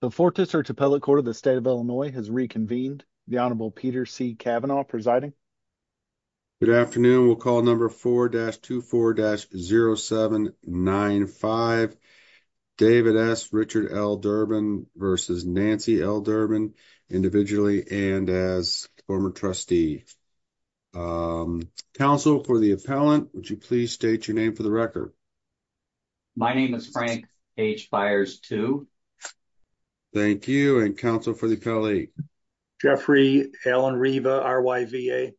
The 4th district appellate court of the state of Illinois has reconvened. The Honorable Peter C. Cavanaugh presiding. Good afternoon, we'll call number 4-24-0795. David S. Richard L. Durbin versus Nancy L. Durbin individually and as former trustee. Counsel for the appellant, would you please state your name for the record? My name is Frank H. Byers II. Thank you, and counsel for the appellate? Jeffrey Alan Riva, R-Y-V-A.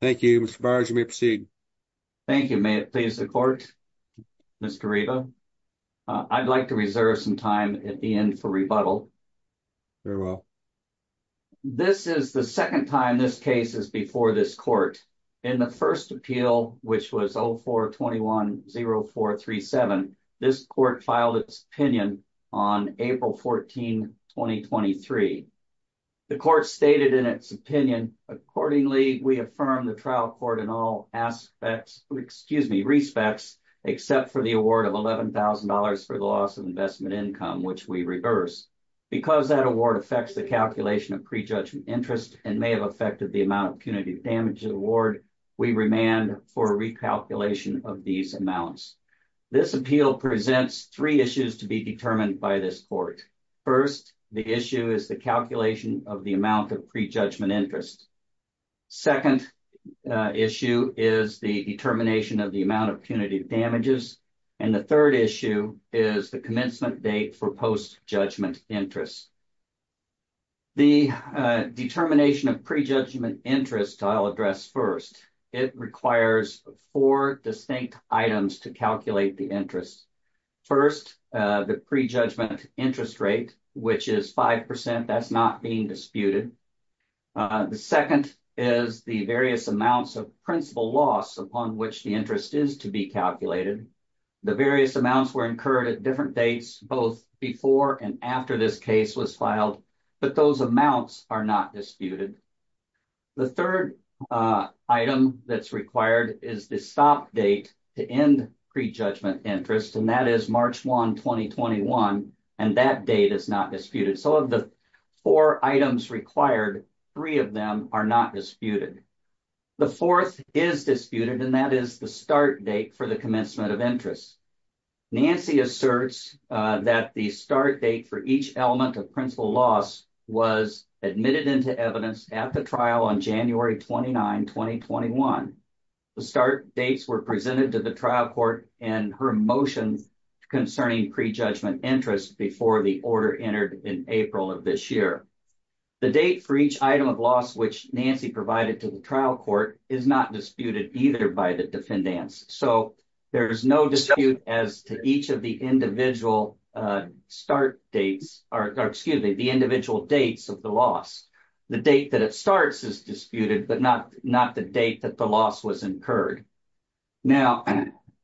Thank you, Mr. Byers, you may proceed. Thank you, may it please the court? Mr. Riva, I'd like to reserve some time at the end for rebuttal. Very well. This is the second time this case is before this court. In the first appeal, which was 04-21-0437, this court filed its opinion on April 14, 2023. The court stated in its opinion, accordingly, we affirm the trial court in all aspects, excuse me, respects, except for the award of $11,000 for the loss of investment income, which we reverse. Because that award affects the calculation of prejudgment interest and may have affected the amount of punitive damage of the award, we remand for recalculation of these amounts. This appeal presents three issues to be determined by this court. First, the issue is the calculation of the amount of prejudgment interest. Second issue is the determination of the amount of punitive damages. And the third issue is the commencement date for post-judgment interest. The determination of prejudgment interest I'll address first. It requires four distinct items to calculate the interest. First, the prejudgment interest rate, which is 5%. That's not being disputed. The second is the various amounts of principal loss upon which the interest is to be calculated. The various amounts were incurred at different dates, both before and after this case was filed. But those amounts are not disputed. The third item that's required is the stop date to end prejudgment interest. And that is March 1, 2021. And that date is not disputed. So of the four items required, three of them are not disputed. The fourth is disputed, and that is the start date for the commencement of interest. Nancy asserts that the start date for each element of principal loss was admitted into evidence at the trial on January 29, 2021. The start dates were presented to the trial court and her motion concerning prejudgment interest before the order entered in April of this year. The date for each item of loss which Nancy provided to the trial court is not disputed either by the defendants. So there is no dispute as to each of the individual start dates, or excuse me, the individual dates of the loss. The date that it starts is disputed, but not the date that the loss was incurred. Now,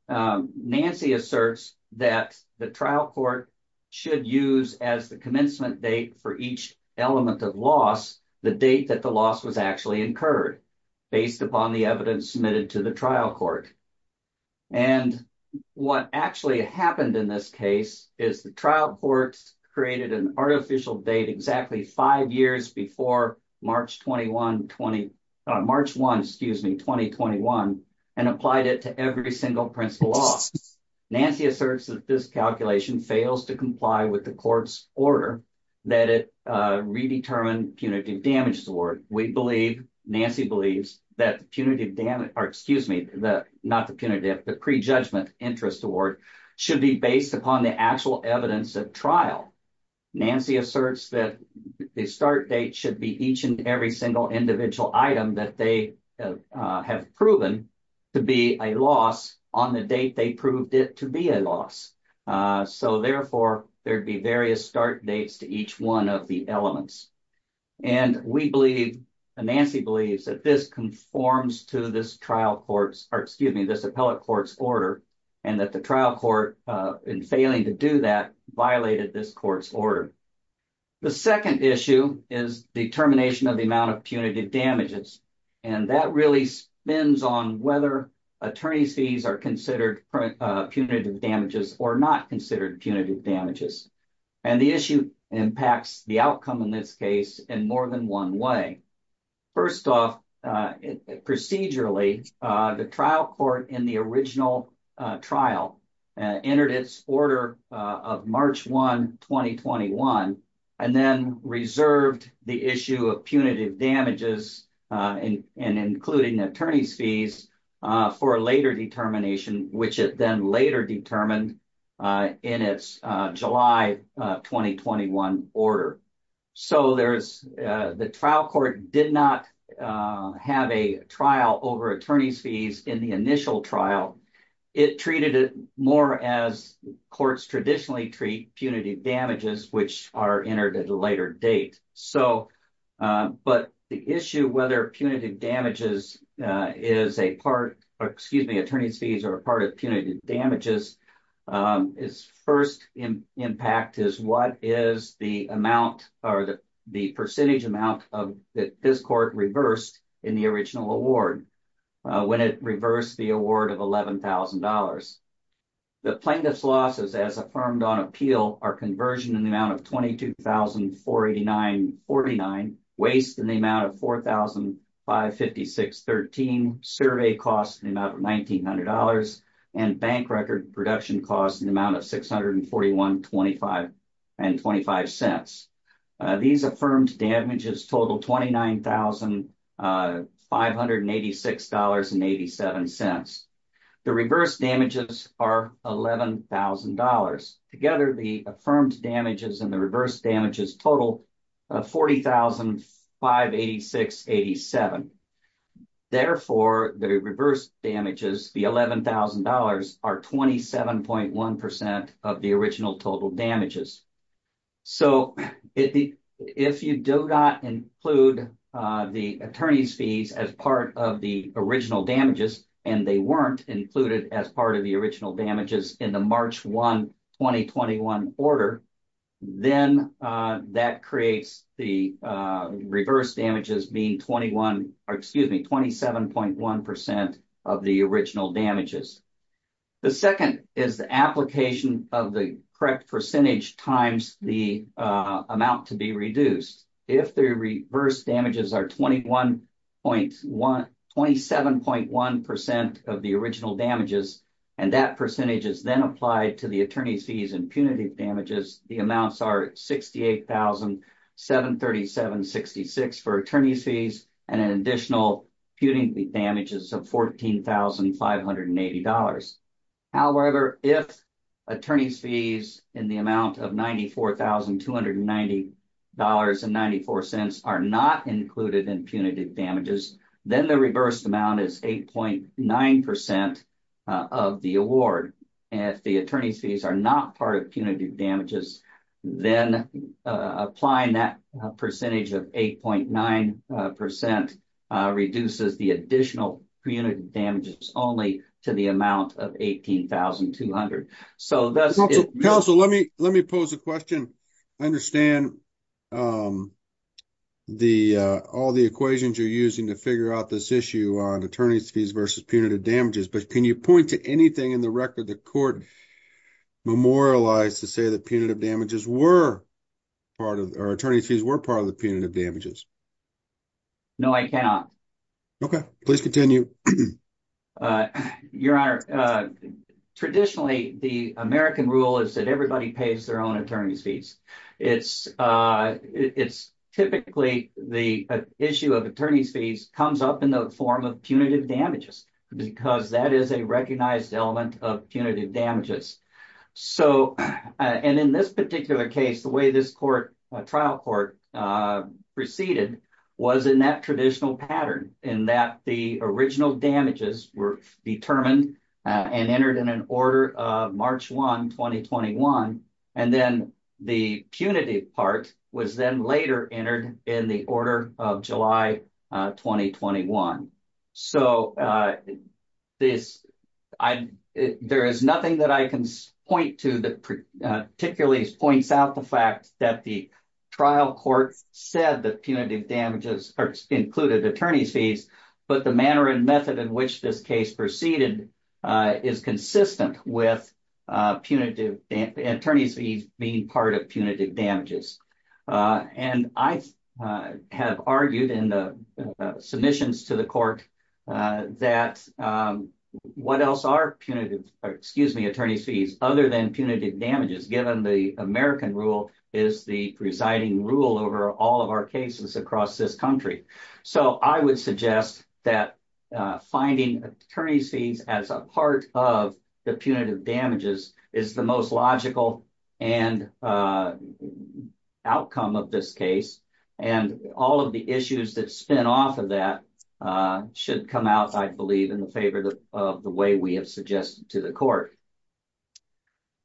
Nancy asserts that the trial court should use as the commencement date for each element of loss the date that the loss was actually incurred based upon the evidence submitted to the trial court. And what actually happened in this case is the trial court created an artificial date exactly five years before March 1, excuse me, 2021, and applied it to every single principal loss. Nancy asserts that this calculation fails to comply with the court's order that it redetermined punitive damages award. We believe, Nancy believes, that punitive damage, or excuse me, not the punitive, the prejudgment interest award should be based upon the actual evidence at trial. Nancy asserts that the start date should be each and every single individual item that they have proven to be a loss on the date they proved it to be a loss. So therefore, there'd be various start dates to each one of the elements. And we believe, Nancy believes, that this conforms to this trial court's, or excuse me, this appellate court's order, and that the trial court, in failing to do that, violated this court's order. The second issue is determination of the amount of punitive damages, and that really spins on whether attorney's fees are considered punitive damages or not considered punitive damages. And the issue impacts the outcome in this case in more than one way. First off, procedurally, the trial court in the original trial entered its order of March 1, 2021, and then reserved the issue of punitive damages, and including attorney's fees, for later determination, which it then later determined in its July 2021 order. So there's, the trial court did not have a trial over attorney's fees in the initial trial. It treated it more as courts traditionally treat punitive damages, which are entered at a later date. So, but the issue whether punitive damages is a part, or excuse me, attorney's fees are a part of punitive damages, its first impact is what is the amount, or the percentage amount, that this court reversed in the original award, when it reversed the award of $11,000. The plaintiff's losses, as affirmed on appeal, are conversion in the amount of $22,489.49, waste in the amount of $4,556.13, survey costs in the amount of $1,900, and bank record production costs in the amount of $641.25. These affirmed damages total $29,586.87. The reverse damages are $11,000. Together, the affirmed damages and the reverse damages total $40,586.87. Therefore, the reverse damages, the $11,000, are 27.1% of the original total damages. So, if you do not include the attorney's fees as part of the original damages, and they weren't included as part of the original damages in the March 1, 2021 order, then that creates the reverse damages being 27.1% of the original damages. The second is the application of the correct percentage times the amount to be reduced. If the reverse damages are 27.1% of the original damages, and that percentage is then applied to the attorney's fees and punitive damages, the amounts are $68,737.66 for attorney's fees and an additional punitive damages of $14,580. However, if attorney's fees in the amount of $94,290.94 are not included in punitive damages, then the reverse amount is 8.9% of the award. If the attorney's fees are not part of punitive damages, then applying that percentage of 8.9% reduces the additional punitive damages only to the amount of $18,200. Counsel, let me pose a question. I understand all the equations you're using to figure out this issue on attorney's fees versus punitive damages, but can you point to anything in the record the court memorialized to say that punitive damages were part of, or attorney's fees were part of the punitive damages? No, I cannot. Okay, please continue. Your Honor, traditionally the American rule is that everybody pays their own attorney's fees. It's typically the issue of attorney's fees comes up in the form of punitive damages, because that is a recognized element of punitive damages. And in this particular case, the way this trial court proceeded was in that traditional pattern, in that the original damages were determined and entered in an order of March 1, 2021, and then the punitive part was then later entered in the order of July 2021. So there is nothing that I can point to that particularly points out the fact that the trial court said that punitive damages included attorney's fees, but the manner and method in which this case proceeded is consistent with attorney's fees being part of punitive damages. And I have argued in the submissions to the court that what else are punitive, excuse me, attorney's fees, other than punitive damages given the American rule is the presiding rule over all of our cases across this country. So I would suggest that finding attorney's fees as a part of the punitive damages is the most logical outcome of this case, and all of the issues that spin off of that should come out, I believe, in the favor of the way we have suggested to the court.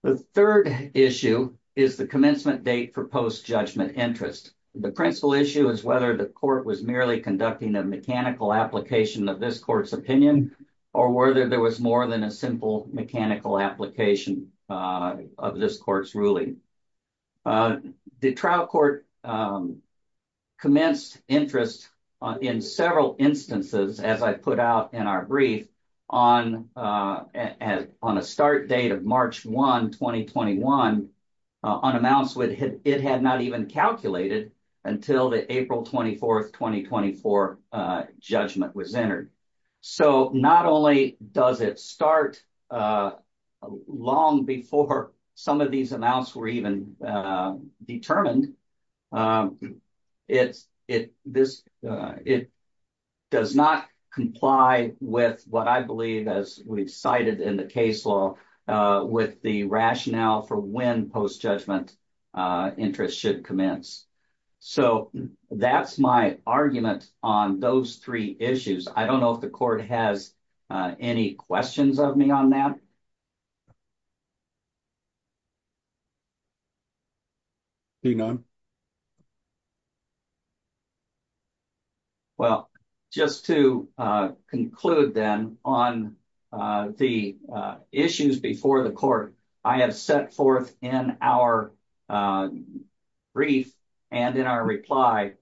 The third issue is the commencement date for post-judgment interest. The principal issue is whether the court was merely conducting a mechanical application of this court's opinion, or whether there was more than a simple mechanical application of this court's ruling. The trial court commenced interest in several instances, as I put out in our brief, on a start date of March 1, 2021, on amounts it had not even calculated until the April 24, 2024 judgment was entered. So not only does it start long before some of these amounts were even determined, it does not comply with what I believe, as we've cited in the case law, with the rationale for when post-judgment interest should commence. So that's my argument on those three issues. I don't know if the court has any questions of me on that. Do you have any questions of me? Seeing none. Well, just to conclude then on the issues before the court, I have set forth in our brief and in our reply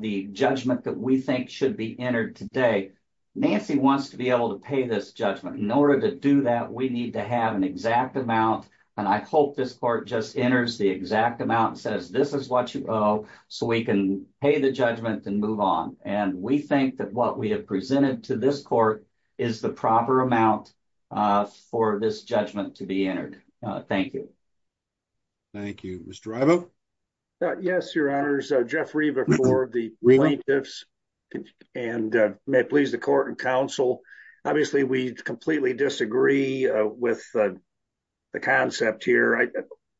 the judgment that we think should be entered today. Nancy wants to be able to pay this judgment. In order to do that, we need to have an exact amount, and I hope this court just enters the exact amount and says this is what you owe, so we can pay the judgment and move on. And we think that what we have presented to this court is the proper amount for this judgment to be entered. Thank you. Thank you. Mr. Ivo? Yes, Your Honors. Jeff Riva for the plaintiffs, and may it please the court and counsel, obviously we completely disagree with the concept here.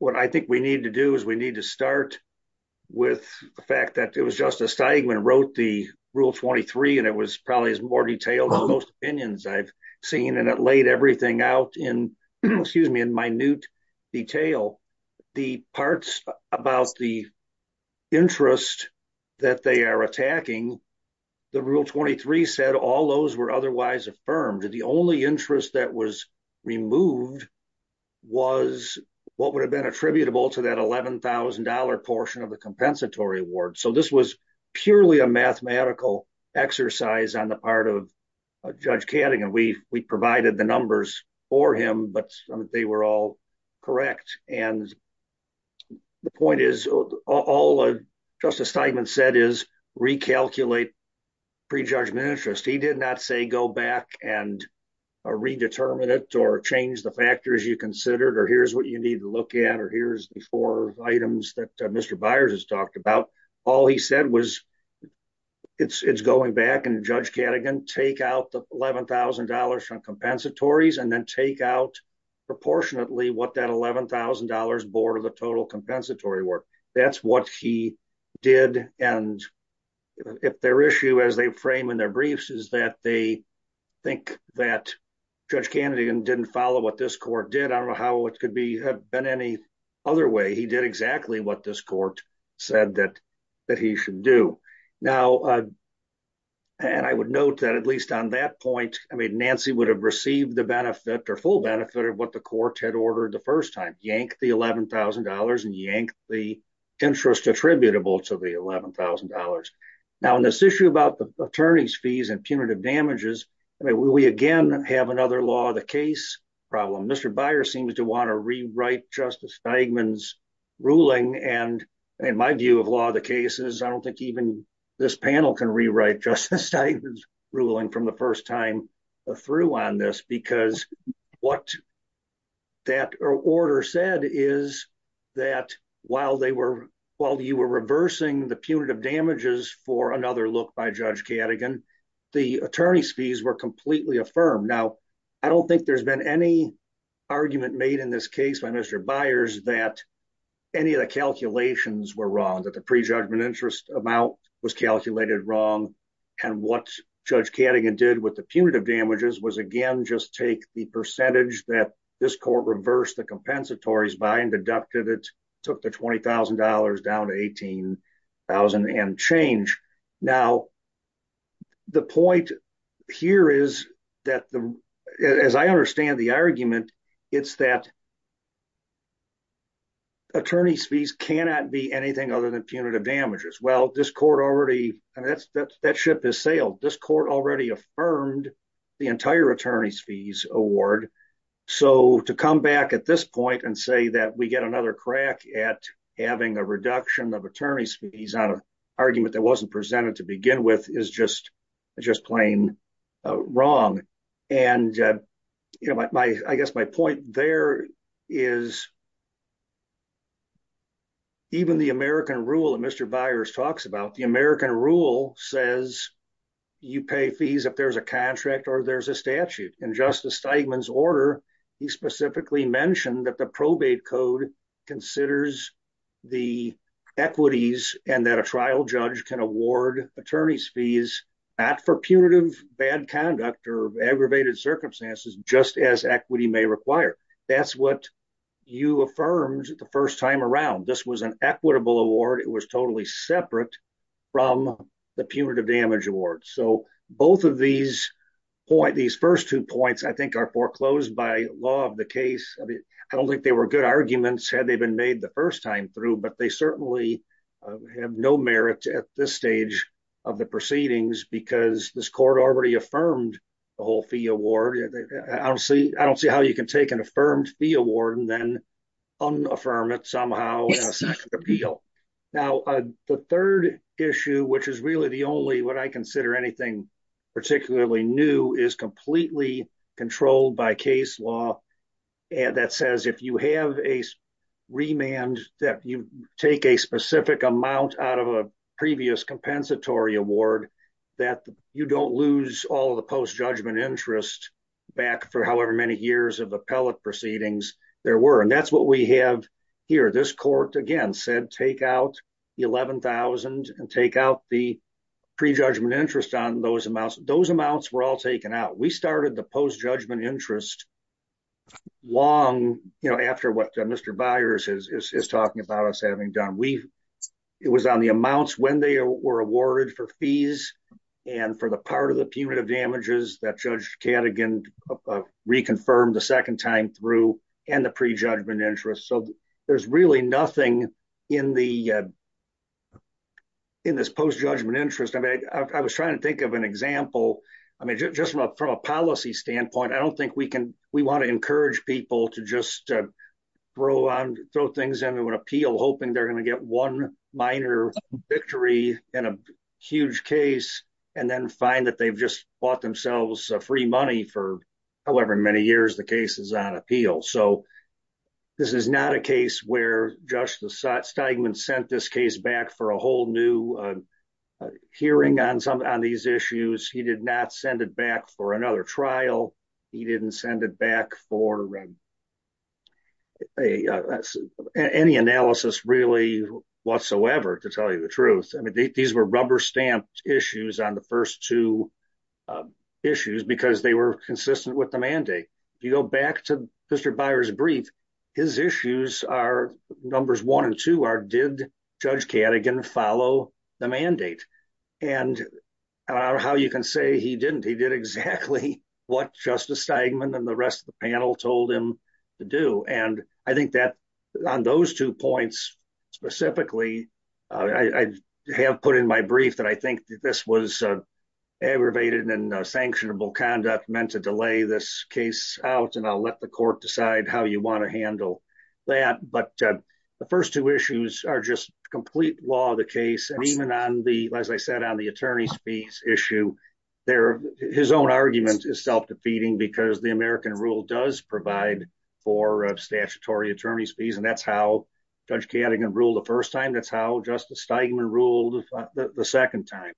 What I think we need to do is we need to start with the fact that it was Justice Steigman who wrote the Rule 23, and it was probably more detailed than most opinions I've seen, and it laid everything out in minute detail. The parts about the interest that they are attacking, the Rule 23 said all those were otherwise affirmed. The only interest that was removed was what would have been attributable to that $11,000 portion of the compensatory award. So this was purely a mathematical exercise on the part of Judge Canning, and we provided the numbers for him, but they were all correct. And the point is, all Justice Steigman said is recalculate prejudgment interest. He did not say go back and redetermine it or change the factors you considered, or here's what you need to look at, or here's the four items that Mr. Byers has talked about. All he said was it's going back and Judge Canning can take out the $11,000 from compensatories and then take out proportionately what that $11,000 board of the total compensatory work. That's what he did, and if their issue as they frame in their briefs is that they think that Judge Canning didn't follow what this court did, I don't know how it could have been any other way. He did exactly what this court said that he should do. Now, and I would note that at least on that point, I mean, Nancy would have received the benefit or full benefit of what the court had ordered the first time, yank the $11,000 and yank the interest attributable to the $11,000. Now, in this issue about the attorney's fees and punitive damages, we again have another law of the case problem. Mr. Byers seems to want to rewrite Justice Steigman's ruling, and in my view of law of the cases, I don't think even this panel can rewrite Justice Steigman's ruling from the first time through on this, because what that order said is that while you were reversing the punitive damages, for another look by Judge Cadogan, the attorney's fees were completely affirmed. Now, I don't think there's been any argument made in this case by Mr. Byers that any of the calculations were wrong, that the prejudgment interest amount was calculated wrong, and what Judge Cadogan did with the punitive damages was again just take the percentage that this court reversed the compensatories by and deducted it, took the $20,000 down to $18,000 and change. Now, the point here is that, as I understand the argument, it's that attorney's fees cannot be anything other than punitive damages. Well, this court already, and that ship has sailed, this court already affirmed the entire attorney's fees award. So, to come back at this point and say that we get another crack at having a reduction of attorney's fees on an argument that wasn't presented to begin with is just plain wrong. And I guess my point there is, even the American rule that Mr. Byers talks about, the American rule says you pay fees if there's a contract or there's a statute. In Justice Steigman's order, he specifically mentioned that the probate code considers the equities and that a trial judge can award attorney's fees, not for punitive bad conduct or aggravated circumstances, just as equity may require. That's what you affirmed the first time around. This was an equitable award. It was totally separate from the punitive damage award. So, both of these first two points, I think, are foreclosed by law of the case. I don't think they were good arguments had they been made the first time through, but they certainly have no merit at this stage of the proceedings because this court already affirmed the whole fee award. I don't see how you can take an affirmed fee award and then unaffirm it somehow in a statute of appeal. Now, the third issue, which is really the only, what I consider anything particularly new, is completely controlled by case law that says if you have a remand that you take a specific amount out of a previous compensatory award, that you don't lose all of the post judgment interest. Back for however many years of appellate proceedings there were, and that's what we have here. This court again said, take out the 11,000 and take out the prejudgment interest on those amounts. Those amounts were all taken out. We started the post judgment interest. Long after what Mr. Byers is talking about us having done. It was on the amounts when they were awarded for fees and for the part of the punitive damages that Judge Cadogan reconfirmed the second time through and the prejudgment interest. So there's really nothing in this post judgment interest. I was trying to think of an example. I mean, just from a policy standpoint, I don't think we want to encourage people to just throw things into an appeal hoping they're going to get one minor victory in a huge case and then find that they've just bought themselves free money for however many years the case is on appeal. So this is not a case where Judge Steigman sent this case back for a whole new hearing on these issues. He did not send it back for another trial. He didn't send it back for any analysis really whatsoever to tell you the truth. These were rubber stamped issues on the first two issues because they were consistent with the mandate. If you go back to Mr. Byers brief, his issues are numbers one and two are did Judge Cadogan follow the mandate? And how you can say he didn't, he did exactly what Justice Steigman and the rest of the panel told him to do. And I think that on those two points, specifically, I have put in my brief that I think that this was aggravated and sanctionable conduct meant to delay this case out and I'll let the court decide how you want to handle that. But the first two issues are just complete law of the case. And even on the, as I said, on the attorney's fees issue, his own argument is self-defeating because the American rule does provide for statutory attorney's fees and that's how Judge Cadogan ruled the first time. That's how Justice Steigman ruled the second time.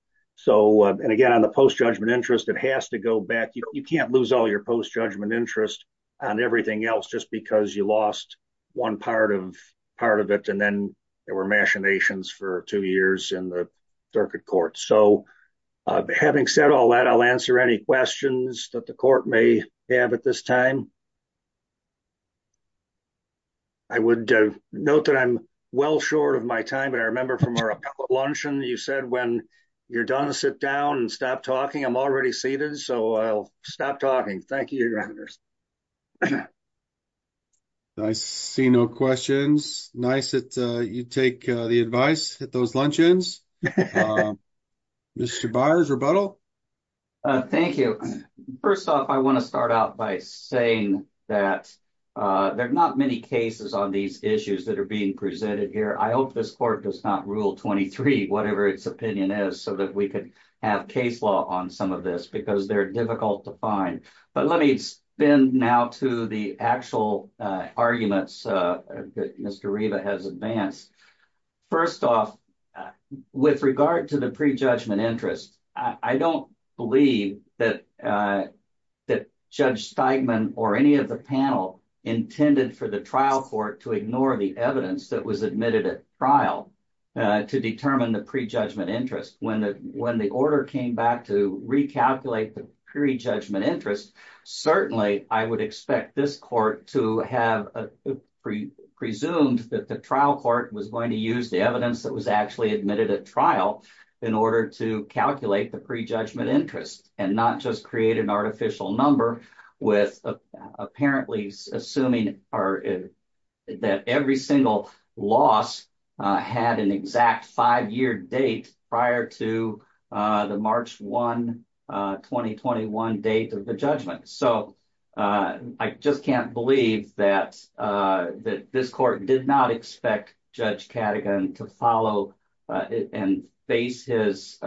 And again, on the post-judgment interest, it has to go back. You can't lose all your post-judgment interest on everything else just because you lost one part of it and then there were machinations for two years in the circuit court. So having said all that, I'll answer any questions that the court may have at this time. I would note that I'm well short of my time, but I remember from our luncheon, you said when you're done, sit down and stop talking. I'm already seated. So I'll stop talking. Thank you. I see no questions. Nice that you take the advice at those luncheons. Mr. Byers, rebuttal? Thank you. First off, I want to start out by saying that there are not many cases on these issues that are being presented here. I hope this court does not rule 23, whatever its opinion is, so that we could have case law on some of this because they're difficult to find. But let me spin now to the actual arguments that Mr. Riva has advanced. First off, with regard to the pre-judgment interest, I don't believe that Judge Steigman or any of the panel intended for the trial court to ignore the evidence that was admitted at trial to determine the pre-judgment interest. When the order came back to recalculate the pre-judgment interest, certainly I would expect this court to have presumed that the trial court was going to use the evidence that was actually admitted at trial in order to calculate the pre-judgment interest and not just create an artificial number with apparently assuming that every single loss had an exact five-year date prior to the trial. I just can't believe that this court did not expect Judge Cadogan to follow and base his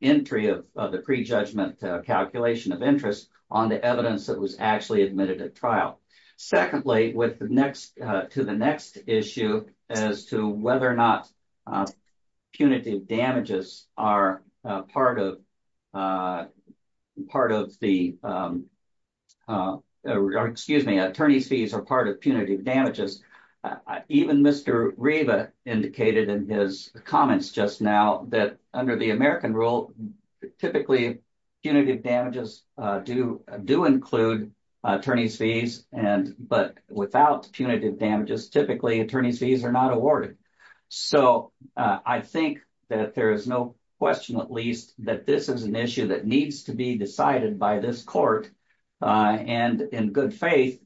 entry of the pre-judgment calculation of interest on the evidence that was actually admitted at trial. Secondly, to the next issue as to whether or not punitive damages are part of the... Excuse me, attorney's fees are part of punitive damages, even Mr. Riva indicated in his comments just now that under the American rule, typically punitive damages do include attorney's fees, but without punitive damages, typically attorney's fees are not awarded. So I think that there is no question at least that this is an issue that needs to be decided by this court. And in good faith,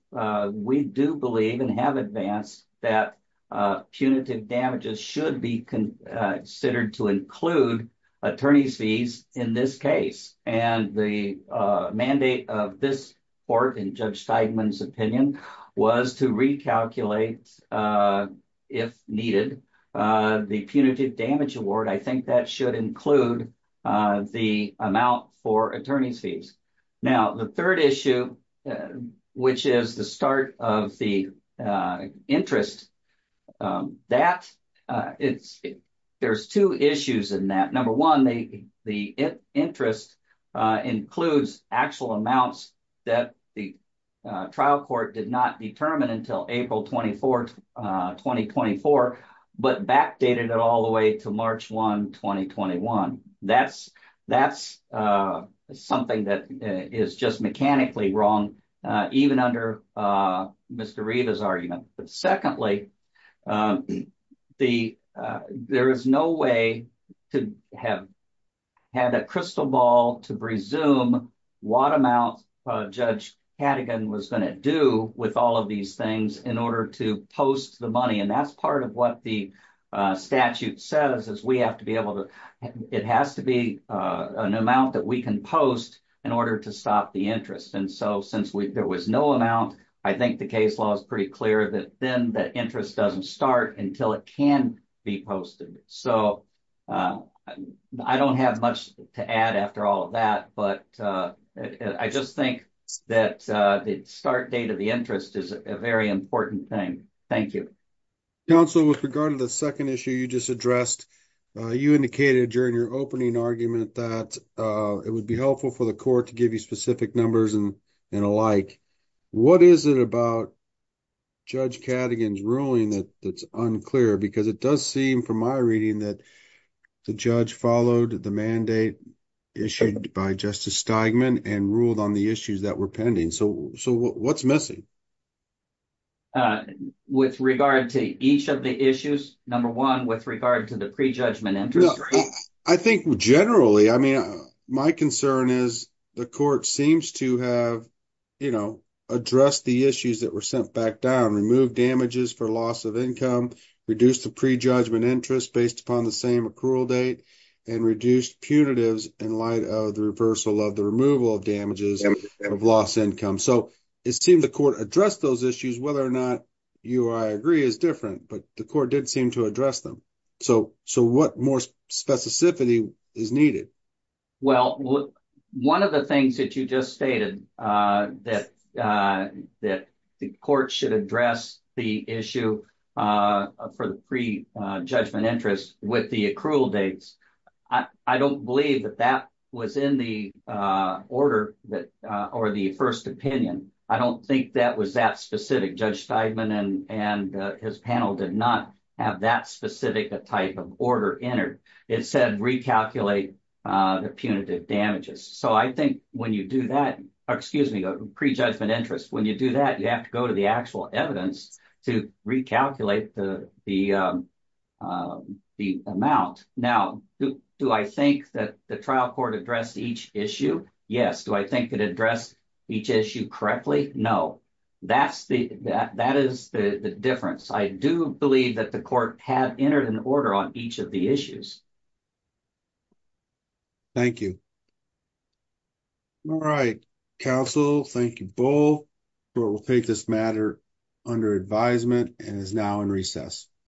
we do believe and have advanced that punitive damages should be considered to include attorney's fees in this case. And the mandate of this court in Judge Steigman's opinion was to recalculate, if needed, the punitive damage award. I think that should include the amount for attorney's fees. Now, the third issue, which is the start of the interest, there's two issues in that. Number one, the interest includes actual amounts that the trial court did not determine until April 24, 2024, but backdated it all the way to March 1, 2021. That's something that is just mechanically wrong, even under Mr. Riva's argument. But secondly, there is no way to have had a crystal ball to presume what amount Judge Cadogan was going to do with all of these things in order to post the money. And that's part of what the statute says is it has to be an amount that we can post in order to stop the interest. And so since there was no amount, I think the case law is pretty clear that then the interest doesn't start until it can be posted. So, I don't have much to add after all of that, but I just think that the start date of the interest is a very important thing. Thank you. Council, with regard to the 2nd issue you just addressed, you indicated during your opening argument that it would be helpful for the court to give you specific numbers and alike. What is it about Judge Cadogan's ruling that's unclear? Because it does seem from my reading that the judge followed the mandate issued by Justice Steigman and ruled on the issues that were pending. So, what's missing? With regard to each of the issues, number 1, with regard to the prejudgment interest rate? I think generally, I mean, my concern is the court seems to have addressed the issues that were sent back down, removed damages for loss of income, reduced the prejudgment interest based upon the same accrual date, and reduced punitives in light of the reversal of the removal of damages of loss income. So, it seems the court addressed those issues, whether or not you or I agree is different, but the court did seem to address them. So, what more specificity is needed? Well, one of the things that you just stated, that the court should address the issue for the prejudgment interest with the accrual dates, I don't believe that that was in the order or the first opinion. I don't think that was that specific. Judge Steigman and his panel did not have that specific type of order entered. It said recalculate the punitive damages. So, I think when you do that, excuse me, the prejudgment interest, when you do that, you have to go to the actual evidence to recalculate the amount. Now, do I think that the trial court addressed each issue? Yes. Do I think it addressed each issue correctly? No. That is the difference. I do believe that the court had entered an order on each of the issues. Thank you. All right, counsel, thank you both. The court will take this matter under advisement and is now in recess.